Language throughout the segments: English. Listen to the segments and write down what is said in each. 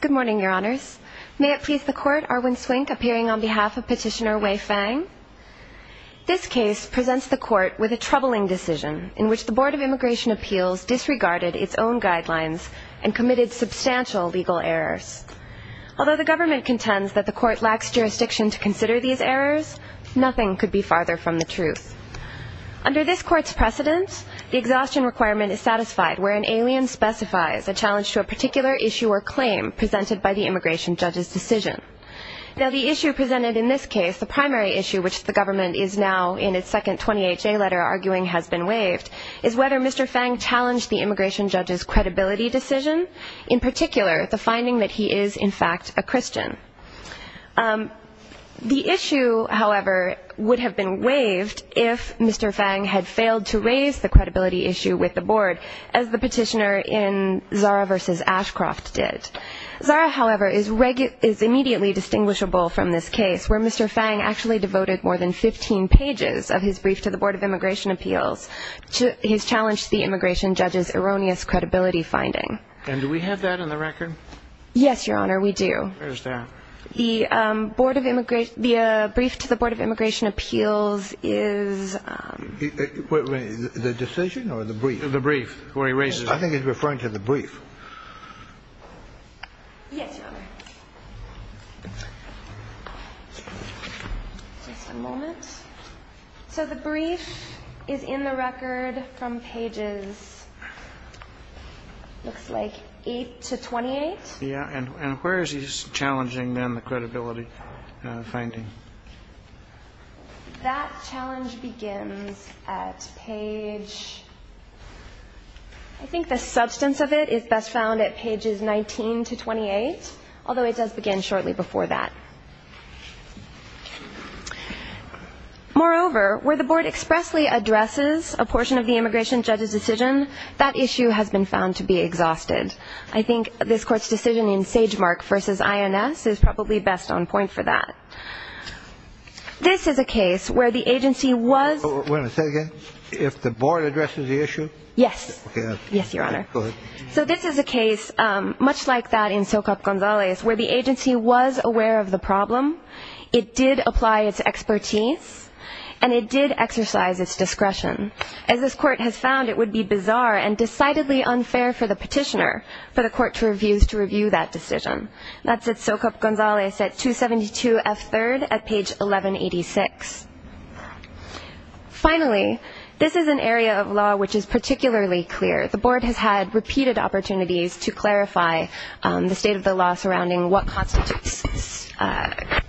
Good morning, Your Honors. May it please the Court, Arwin Swink appearing on behalf of Petitioner Wei Fang. This case presents the Court with a troubling decision in which the Board of Immigration Appeals disregarded its own guidelines and committed substantial legal errors. Although the government contends that the Court lacks jurisdiction to consider these errors, nothing could be farther from the truth. Under this Court's precedence, the exhaustion requirement is satisfied where an alien specifies a challenge to a particular issue or claim presented by the immigration judge's decision. Now the issue presented in this case, the primary issue which the government is now in its second 28-J letter arguing has been waived, is whether Mr. Fang challenged the immigration judge's credibility decision, in particular the finding that he is, in fact, a Christian. The issue, however, would have been waived if Mr. Fang had failed to raise the credibility issue with the Board, as the petitioner in Zara v. Ashcroft did. Zara, however, is immediately distinguishable from this case where Mr. Fang actually devoted more than 15 pages of his brief to the Board of Immigration Appeals. He's challenged the immigration judge's erroneous credibility finding. And do we have that in the record? Yes, Your Honor, we do. Where is that? The Board of Immigration – the brief to the Board of Immigration Appeals is... The decision or the brief? The brief. I think he's referring to the brief. Yes, Your Honor. Just a moment. So the brief is in the record from pages, looks like, 8 to 28. Yes, and where is he challenging, then, the credibility finding? That challenge begins at page – I think the substance of it is best found at pages 19 to 28, although it does begin shortly before that. Moreover, where the Board expressly addresses a portion of the immigration judge's decision, that issue has been found to be exhausted. I think this Court's decision in Sagemark v. INS is probably best on point for that. This is a case where the agency was... Wait a second. If the Board addresses the issue? Yes. Yes, Your Honor. Go ahead. So this is a case, much like that in Socap Gonzalez, where the agency was aware of the problem. It did apply its expertise, and it did exercise its discretion. As this Court has found, it would be bizarre and decidedly unfair for the petitioner, for the Court to review that decision. That's at Socap Gonzalez at 272 F. 3rd at page 1186. Finally, this is an area of law which is particularly clear. The Board has had repeated opportunities to clarify the state of the law surrounding what constitutes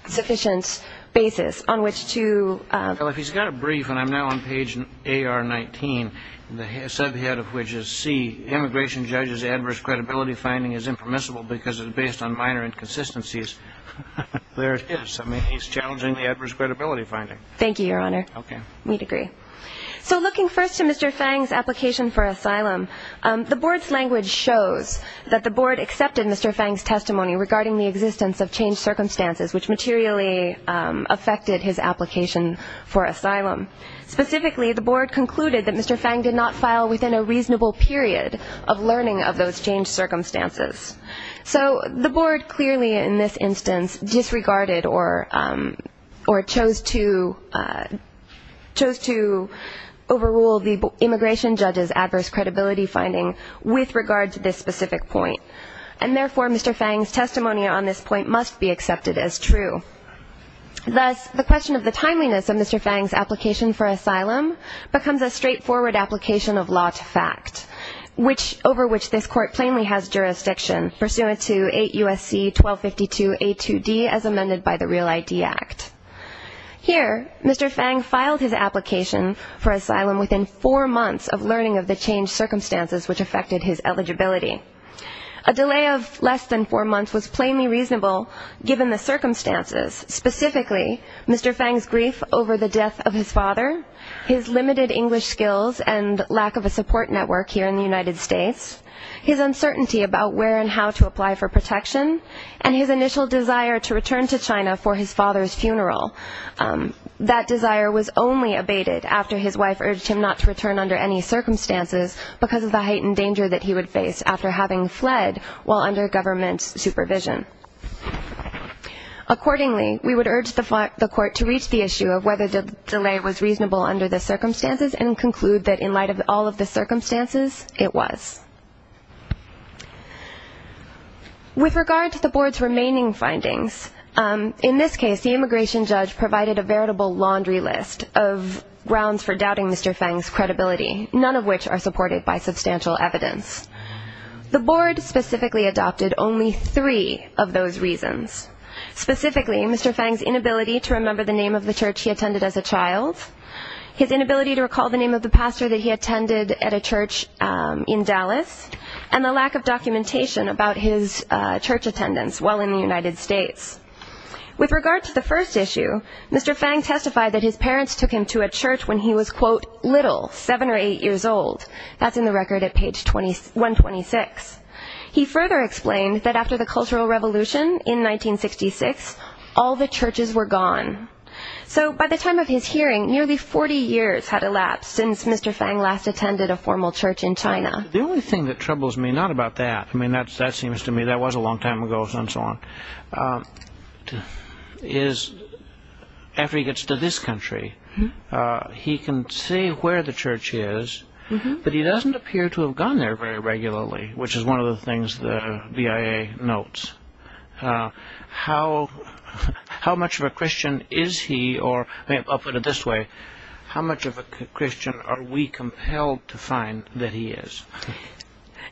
sufficient basis on which to... Well, if he's got a brief, and I'm now on page AR 19, the subhead of which is C, immigration judge's adverse credibility finding is impermissible because it is based on minor inconsistencies. There it is. I mean, he's challenging the adverse credibility finding. Thank you, Your Honor. Okay. We'd agree. So looking first to Mr. Fang's application for asylum, the Board's language shows that the Board accepted Mr. Fang's testimony regarding the existence of changed circumstances which materially affected his application for asylum. Specifically, the Board concluded that Mr. Fang did not file within a reasonable period of learning of those changed circumstances. So the Board clearly in this instance disregarded or chose to overrule the immigration judge's adverse credibility finding with regard to this specific point. And therefore, Mr. Fang's testimony on this point must be accepted as true. Thus, the question of the timeliness of Mr. Fang's application for asylum becomes a straightforward application of law to fact, over which this Court plainly has jurisdiction pursuant to 8 U.S.C. 1252 A.2.D. as amended by the Real ID Act. Here, Mr. Fang filed his application for asylum within four months of learning of the changed circumstances which affected his eligibility. A delay of less than four months was plainly reasonable given the circumstances. Specifically, Mr. Fang's grief over the death of his father, his limited English skills and lack of a support network here in the United States, his uncertainty about where and how to apply for protection, and his initial desire to return to China for his father's funeral. That desire was only abated after his wife urged him not to return under any circumstances because of the heightened danger that he would face after having fled while under government supervision. Accordingly, we would urge the Court to reach the issue of whether the delay was reasonable under the circumstances and conclude that in light of all of the circumstances, it was. With regard to the Board's remaining findings, in this case, the immigration judge provided a veritable laundry list of grounds for doubting Mr. Fang's credibility, none of which are supported by substantial evidence. The Board specifically adopted only three of those reasons. Specifically, Mr. Fang's inability to remember the name of the church he attended as a child, his inability to recall the name of the pastor that he attended at a church in Dallas, and the lack of documentation about his church attendance while in the United States. With regard to the first issue, Mr. Fang testified that his parents took him to a church when he was, quote, little, seven or eight years old. That's in the record at page 126. He further explained that after the Cultural Revolution in 1966, all the churches were gone. So by the time of his hearing, nearly 40 years had elapsed since Mr. Fang last attended a formal church in China. The only thing that troubles me, not about that, I mean, that seems to me that was a long time ago and so on, is after he gets to this country, he can say where the church is, but he doesn't appear to have gone there very regularly, which is one of the things the BIA notes. How much of a Christian is he or, I'll put it this way, how much of a Christian are we compelled to find that he is?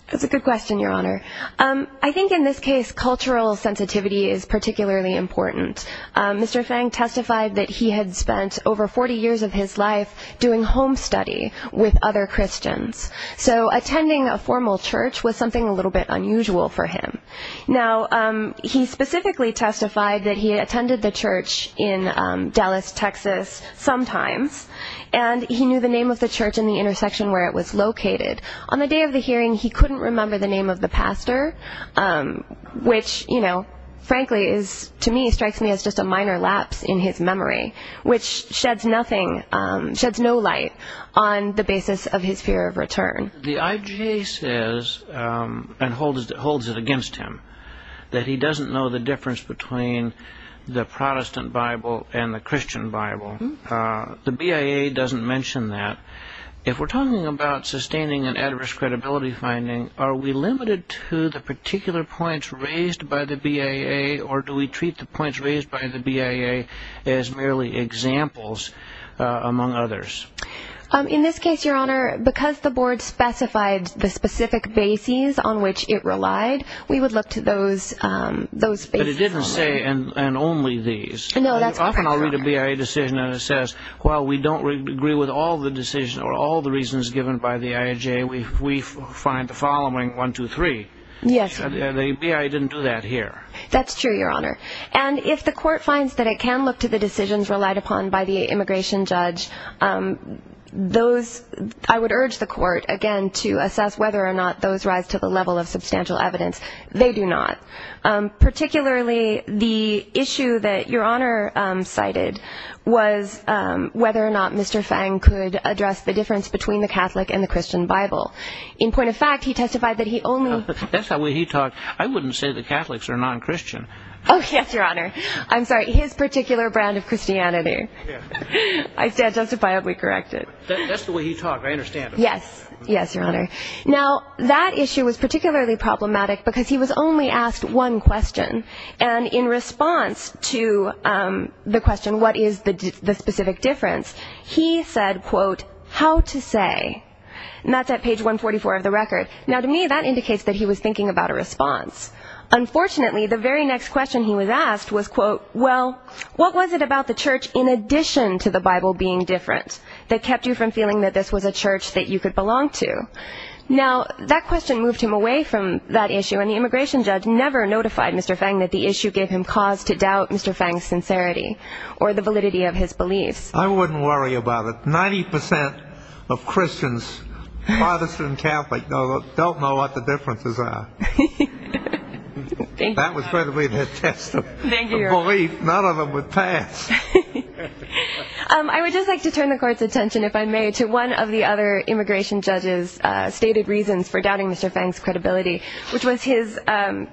That's a good question, Your Honor. I think in this case cultural sensitivity is particularly important. Mr. Fang testified that he had spent over 40 years of his life doing home study with other Christians. So attending a formal church was something a little bit unusual for him. Now, he specifically testified that he attended the church in Dallas, Texas, sometimes, and he knew the name of the church and the intersection where it was located. On the day of the hearing, he couldn't remember the name of the pastor, which frankly to me strikes me as just a minor lapse in his memory, which sheds no light on the basis of his fear of return. The IGA says, and holds it against him, that he doesn't know the difference between the Protestant Bible and the Christian Bible. The BIA doesn't mention that. If we're talking about sustaining an adverse credibility finding, are we limited to the particular points raised by the BIA, or do we treat the points raised by the BIA as merely examples among others? In this case, Your Honor, because the board specified the specific bases on which it relied, we would look to those bases only. But it didn't say, and only these. No, that's correct, Your Honor. Often I'll read a BIA decision and it says, while we don't agree with all the decisions or all the reasons given by the IGA, we find the following, one, two, three. Yes. The BIA didn't do that here. That's true, Your Honor. And if the court finds that it can look to the decisions relied upon by the immigration judge, those, I would urge the court, again, to assess whether or not those rise to the level of substantial evidence. They do not. Particularly the issue that Your Honor cited was whether or not Mr. Fang could address the difference between the Catholic and the Christian Bible. In point of fact, he testified that he only That's not what he talked. I wouldn't say the Catholics are non-Christian. Oh, yes, Your Honor. I'm sorry. His particular brand of Christianity. I stand justifiedly corrected. That's the way he talked. I understand. Yes. Yes, Your Honor. Now, that issue was particularly problematic because he was only asked one question. And in response to the question, what is the specific difference, he said, quote, how to say. And that's at page 144 of the record. Now, to me, that indicates that he was thinking about a response. Unfortunately, the very next question he was asked was, quote, well, what was it about the church in addition to the Bible being different that kept you from feeling that this was a church that you could belong to? Now, that question moved him away from that issue, and the immigration judge never notified Mr. Fang that the issue gave him cause to doubt Mr. Fang's sincerity or the validity of his beliefs. I wouldn't worry about it. Ninety percent of Christians, Protestant and Catholic, don't know what the differences are. Thank you, Your Honor. That was probably the test of belief. None of them would pass. I would just like to turn the Court's attention, if I may, to one of the other immigration judge's stated reasons for doubting Mr. Fang's credibility, which was his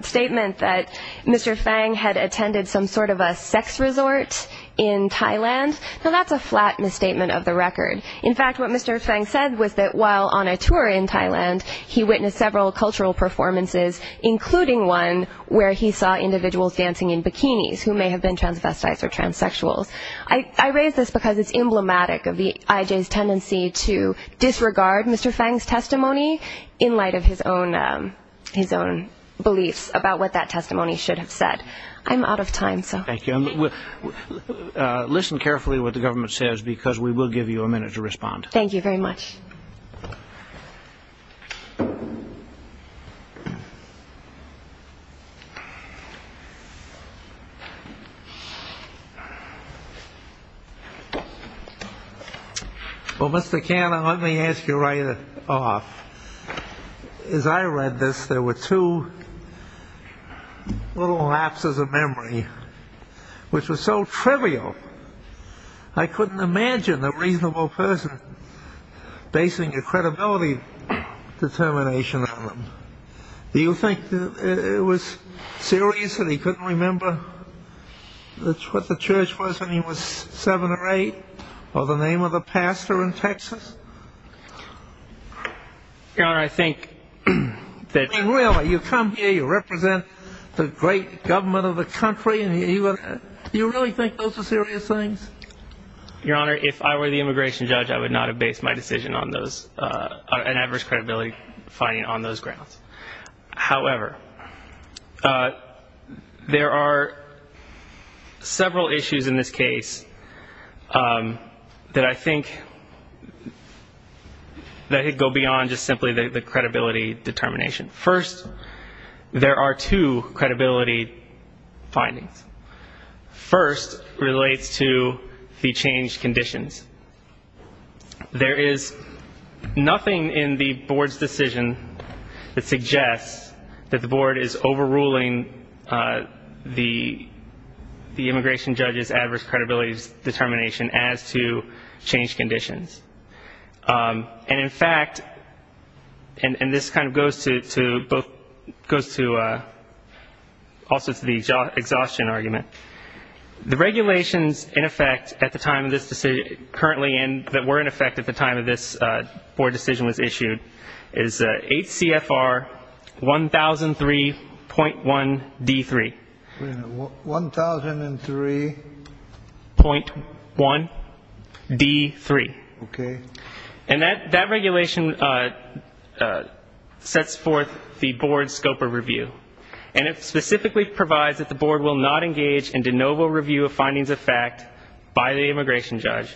statement that Mr. Fang had attended some sort of a sex resort in Thailand. Now, that's a flat misstatement of the record. In fact, what Mr. Fang said was that while on a tour in Thailand, he witnessed several cultural performances, including one where he saw individuals dancing in bikinis who may have been transvestites or transsexuals. I raise this because it's emblematic of I.J.'s tendency to disregard Mr. Fang's testimony in light of his own beliefs about what that testimony should have said. I'm out of time. Thank you. Listen carefully to what the government says because we will give you a minute to respond. Thank you very much. Well, Mr. Cannon, let me ask you right off. As I read this, there were two little lapses of memory, which was so trivial. I couldn't imagine a reasonable person basing a credibility determination on them. Do you think it was serious that he couldn't remember what the church was when he was seven or eight or the name of the pastor in Texas? Your Honor, I think that... I mean, really, you come here, you represent the great government of the country, and you really think those are serious things? Your Honor, if I were the immigration judge, I would not have based my decision on those, an adverse credibility finding on those grounds. However, there are several issues in this case that I think go beyond just simply the credibility determination. First, there are two credibility findings. First relates to the changed conditions. There is nothing in the board's decision that suggests that the board is overruling the immigration judge's adverse credibility determination as to changed conditions. And, in fact, and this kind of goes to the exhaustion argument, the regulations in effect at the time of this decision, currently, and that were in effect at the time of this board decision was issued, is 8 CFR 1003.1 D3. 1003.1 D3. Okay. And that regulation sets forth the board's scope of review, and it specifically provides that the board will not engage in de novo review of findings of fact by the immigration judge.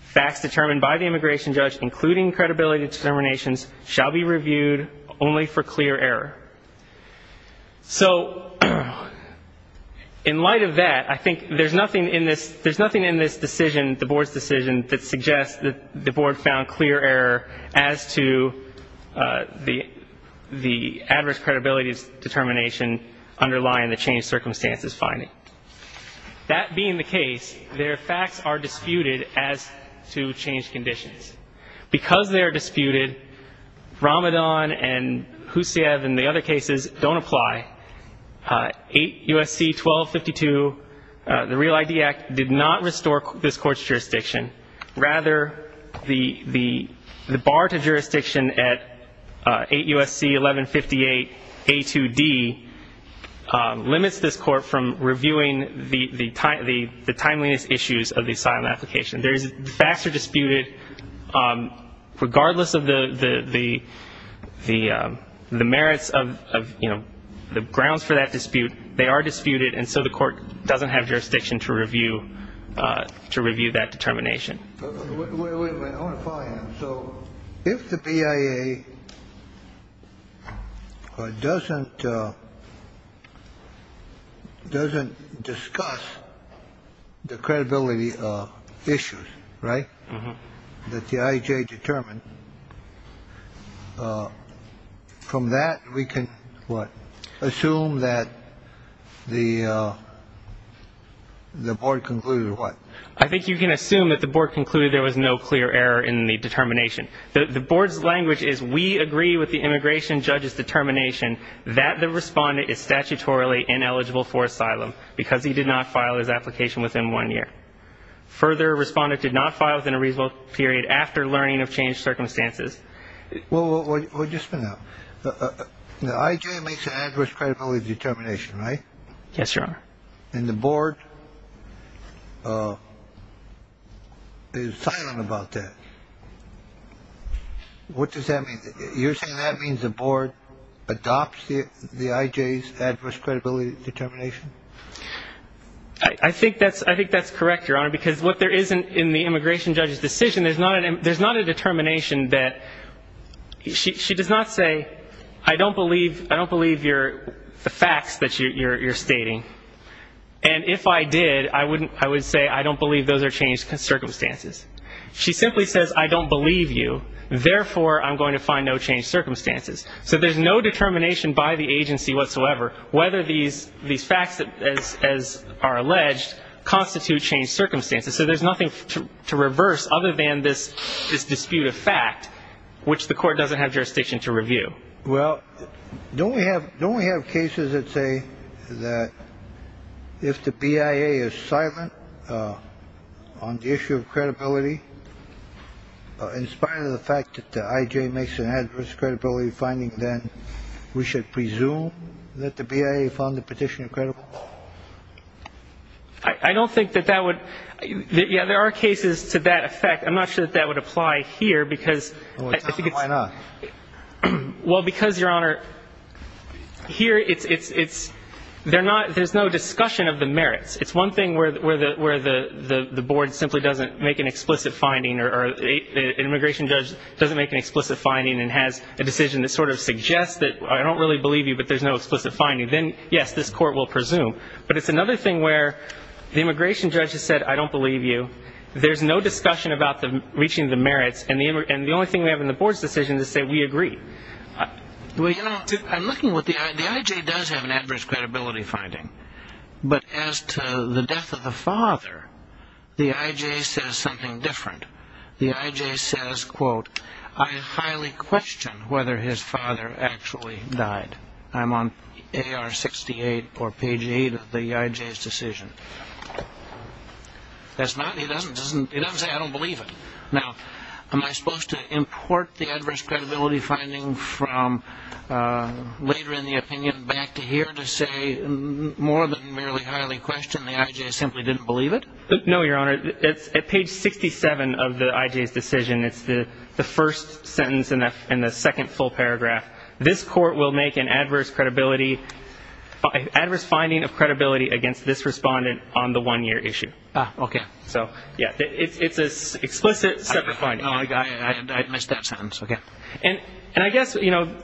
Facts determined by the immigration judge, including credibility determinations, shall be reviewed only for clear error. So, in light of that, I think there's nothing in this decision, the board's decision, that suggests that the board found clear error as to the adverse credibility determination underlying the changed circumstances finding. That being the case, their facts are disputed as to changed conditions. Because they are disputed, Ramadan and Husayev and the other cases don't apply. 8 U.S.C. 1252, the Real ID Act, did not restore this court's jurisdiction. Rather, the bar to jurisdiction at 8 U.S.C. 1158 A2D limits this court from reviewing the timeliness issues of the asylum application. The facts are disputed. Regardless of the merits of, you know, the grounds for that dispute, they are disputed, and so the court doesn't have jurisdiction to review that determination. So, if the BIA doesn't discuss the credibility issues, right, that the IJ determined, from that we can what? Assume that the board concluded what? I think you can assume that the board concluded there was no clear error in the determination. The board's language is we agree with the immigration judge's determination that the respondent is statutorily ineligible for asylum because he did not file his application within one year. Further, respondent did not file within a reasonable period after learning of changed circumstances. Well, just for now, the IJ makes an adverse credibility determination, right? Yes, Your Honor. And the board is silent about that. What does that mean? You're saying that means the board adopts the IJ's adverse credibility determination? I think that's correct, Your Honor, because what there is in the immigration judge's decision, there's not a determination that she does not say I don't believe the facts that you're stating. And if I did, I would say I don't believe those are changed circumstances. She simply says I don't believe you, therefore I'm going to find no changed circumstances. So there's no determination by the agency whatsoever whether these facts, as are alleged, constitute changed circumstances. So there's nothing to reverse other than this dispute of fact, which the court doesn't have jurisdiction to review. Well, don't we have cases that say that if the BIA is silent on the issue of credibility, in spite of the fact that the IJ makes an adverse credibility finding, then we should presume that the BIA found the petitioner credible? I don't think that that would – yeah, there are cases to that effect. I'm not sure that that would apply here because I think it's – Why not? Well, because, Your Honor, here it's – they're not – there's no discussion of the merits. It's one thing where the board simply doesn't make an explicit finding or an immigration judge doesn't make an explicit finding and has a decision that sort of suggests that I don't really believe you, but there's no explicit finding. Then, yes, this court will presume. But it's another thing where the immigration judge has said, I don't believe you. There's no discussion about reaching the merits. And the only thing we have in the board's decision to say, we agree. Well, you know, I'm looking what the – the IJ does have an adverse credibility finding. But as to the death of the father, the IJ says something different. The IJ says, quote, I highly question whether his father actually died. I'm on AR 68 or page 8 of the IJ's decision. That's not – he doesn't say, I don't believe it. Now, am I supposed to import the adverse credibility finding from later in the opinion back to here to say more than merely highly question, the IJ simply didn't believe it? No, Your Honor. It's at page 67 of the IJ's decision. It's the first sentence in the second full paragraph. This court will make an adverse credibility – adverse finding of credibility against this respondent on the one-year issue. Ah, okay. So, yeah, it's an explicit separate finding. I missed that sentence, okay. And I guess, you know,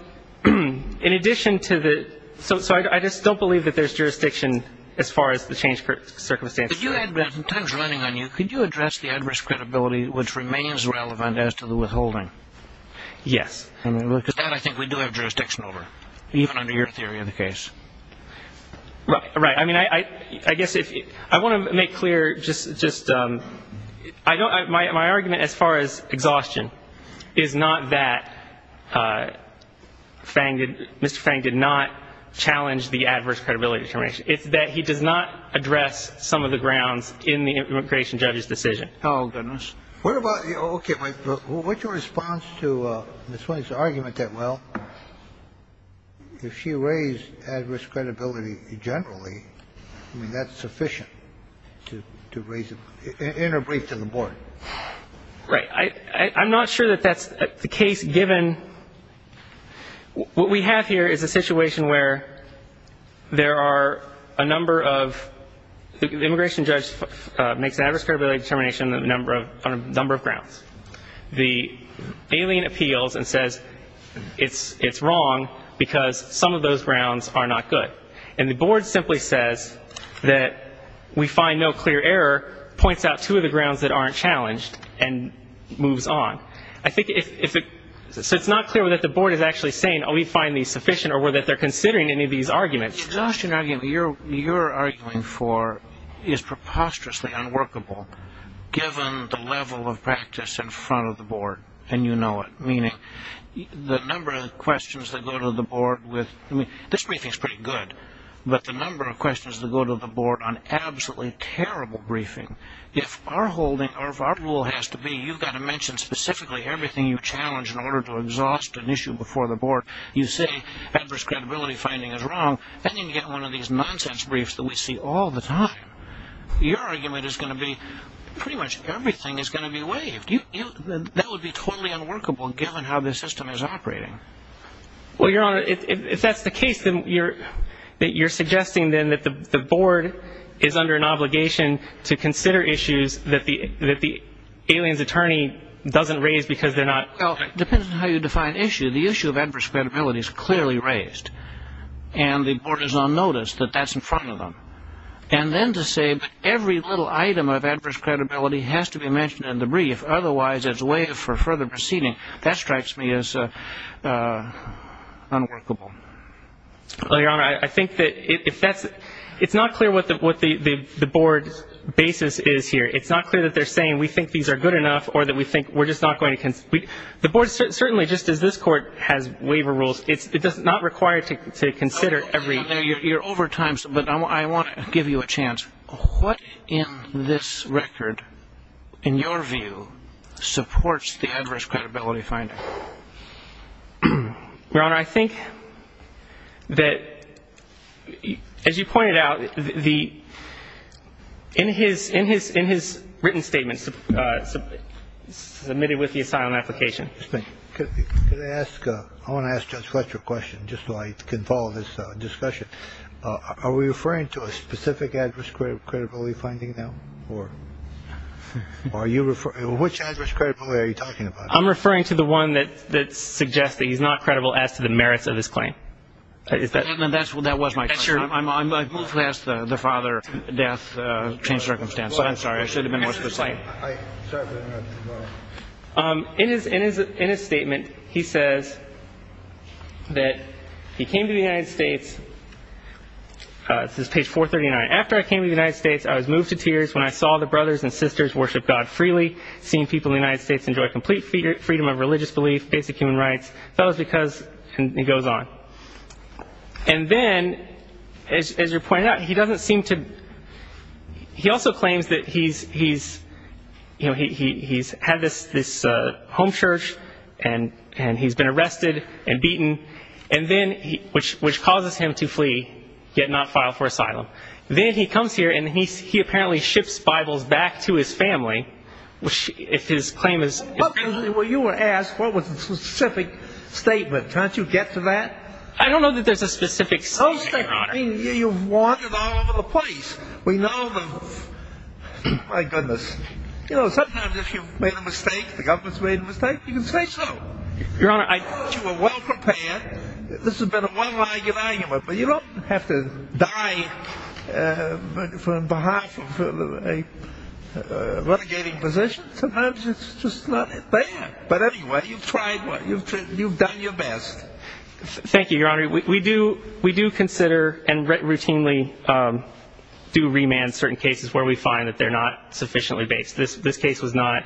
in addition to the – so I just don't believe that there's jurisdiction as far as the change of circumstances. In terms of running on you, could you address the adverse credibility, which remains relevant as to the withholding? Yes. Because that, I think, we do have jurisdiction over, even under your theory of the case. Right. I mean, I guess if – I want to make clear just – my argument as far as exhaustion is not that Mr. Fang did not challenge the adverse credibility determination. It's that he does not address some of the grounds in the immigration judge's decision. Oh, goodness. What about – okay. What's your response to Ms. Williams' argument that, well, if she raised adverse credibility generally, I mean, that's sufficient to raise – in her brief to the board? Right. I'm not sure that that's the case, given what we have here is a situation where there are a number of – the immigration judge makes an adverse credibility determination on a number of grounds. The alien appeals and says it's wrong because some of those grounds are not good. And the board simply says that we find no clear error, points out two of the grounds that aren't challenged, and moves on. I think if – so it's not clear whether the board is actually saying, oh, we find these sufficient, or whether they're considering any of these arguments. The exhaustion argument you're arguing for is preposterously unworkable, given the level of practice in front of the board, and you know it, meaning the number of questions that go to the board with – I mean, this briefing is pretty good, but the number of questions that go to the board on absolutely terrible briefing. If our holding or if our rule has to be you've got to mention specifically everything you challenge in order to exhaust an issue before the board, you say adverse credibility finding is wrong, then you get one of these nonsense briefs that we see all the time. Your argument is going to be pretty much everything is going to be waived. That would be totally unworkable, given how the system is operating. Well, Your Honor, if that's the case, then you're suggesting then that the board is under an obligation to consider issues that the alien's attorney doesn't raise because they're not – Well, it depends on how you define issue. The issue of adverse credibility is clearly raised, and the board is on notice that that's in front of them. And then to say every little item of adverse credibility has to be mentioned in the brief, otherwise as a way for further proceeding, that strikes me as unworkable. Well, Your Honor, I think that if that's – it's not clear what the board's basis is here. It's not clear that they're saying we think these are good enough or that we think we're just not going to – The board certainly, just as this court, has waiver rules. It's not required to consider every – You're over time, but I want to give you a chance. What in this record, in your view, supports the adverse credibility finding? Your Honor, I think that, as you pointed out, the – in his written statements submitted with the asylum application. Just a minute. Could I ask – I want to ask Judge Fletcher a question just so I can follow this discussion. Are we referring to a specific adverse credibility finding now, or are you – which adverse credibility are you talking about? I'm referring to the one that suggests that he's not credible as to the merits of his claim. Is that – That was my question. I've moved past the father, death, changed circumstances. I'm sorry. I should have been more specific. In his statement, he says that he came to the United States – this is page 439. After I came to the United States, I was moved to tears when I saw the brothers and sisters worship God freely, seeing people in the United States enjoy complete freedom of religious belief, basic human rights. That was because – and he goes on. And then, as you pointed out, he doesn't seem to – he also claims that he's – you know, he's had this home church, and he's been arrested and beaten, and then – which causes him to flee, yet not file for asylum. Then he comes here, and he apparently ships Bibles back to his family if his claim is – Well, you were asked what was the specific statement. Can't you get to that? I don't know that there's a specific statement, Your Honor. I mean, you've warned it all over the place. We know the – my goodness. You know, sometimes if you've made a mistake, the government's made a mistake, you can say so. Your Honor, I – But on behalf of a renegading position, sometimes it's just not that bad. But anyway, you've tried – you've done your best. Thank you, Your Honor. We do consider and routinely do remand certain cases where we find that they're not sufficiently based. This case was not.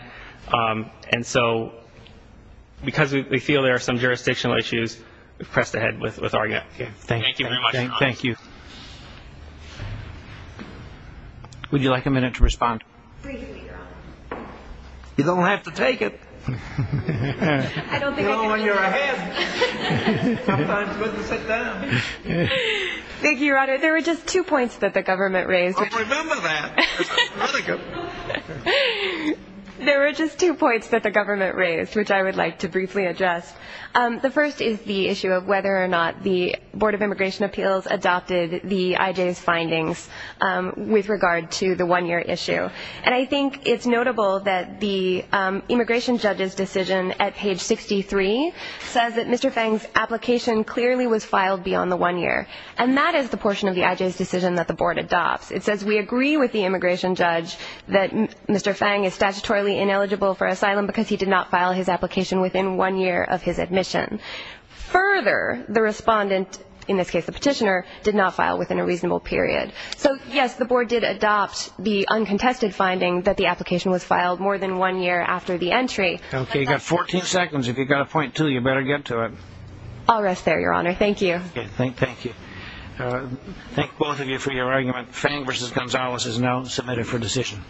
And so because we feel there are some jurisdictional issues, we've pressed ahead with our – Thank you very much, Your Honor. Thank you. Would you like a minute to respond? Briefly, Your Honor. You don't have to take it. I don't think I can take it. You know, when you're ahead, sometimes it's good to sit down. Thank you, Your Honor. There were just two points that the government raised. I'll remember that. Very good. There were just two points that the government raised, which I would like to briefly address. The first is the issue of whether or not the Board of Immigration Appeals adopted the IJ's findings with regard to the one-year issue. And I think it's notable that the immigration judge's decision at page 63 says that Mr. Fang's application clearly was filed beyond the one year. And that is the portion of the IJ's decision that the Board adopts. It says we agree with the immigration judge that Mr. Fang is statutorily ineligible for asylum because he did not file his application within one year of his admission. Further, the respondent, in this case the petitioner, did not file within a reasonable period. So, yes, the Board did adopt the uncontested finding that the application was filed more than one year after the entry. Okay, you've got 14 seconds. If you've got a point, too, you better get to it. I'll rest there, Your Honor. Thank you. Thank you. Thank both of you for your argument. Fang v. Gonzalez is now submitted for decision.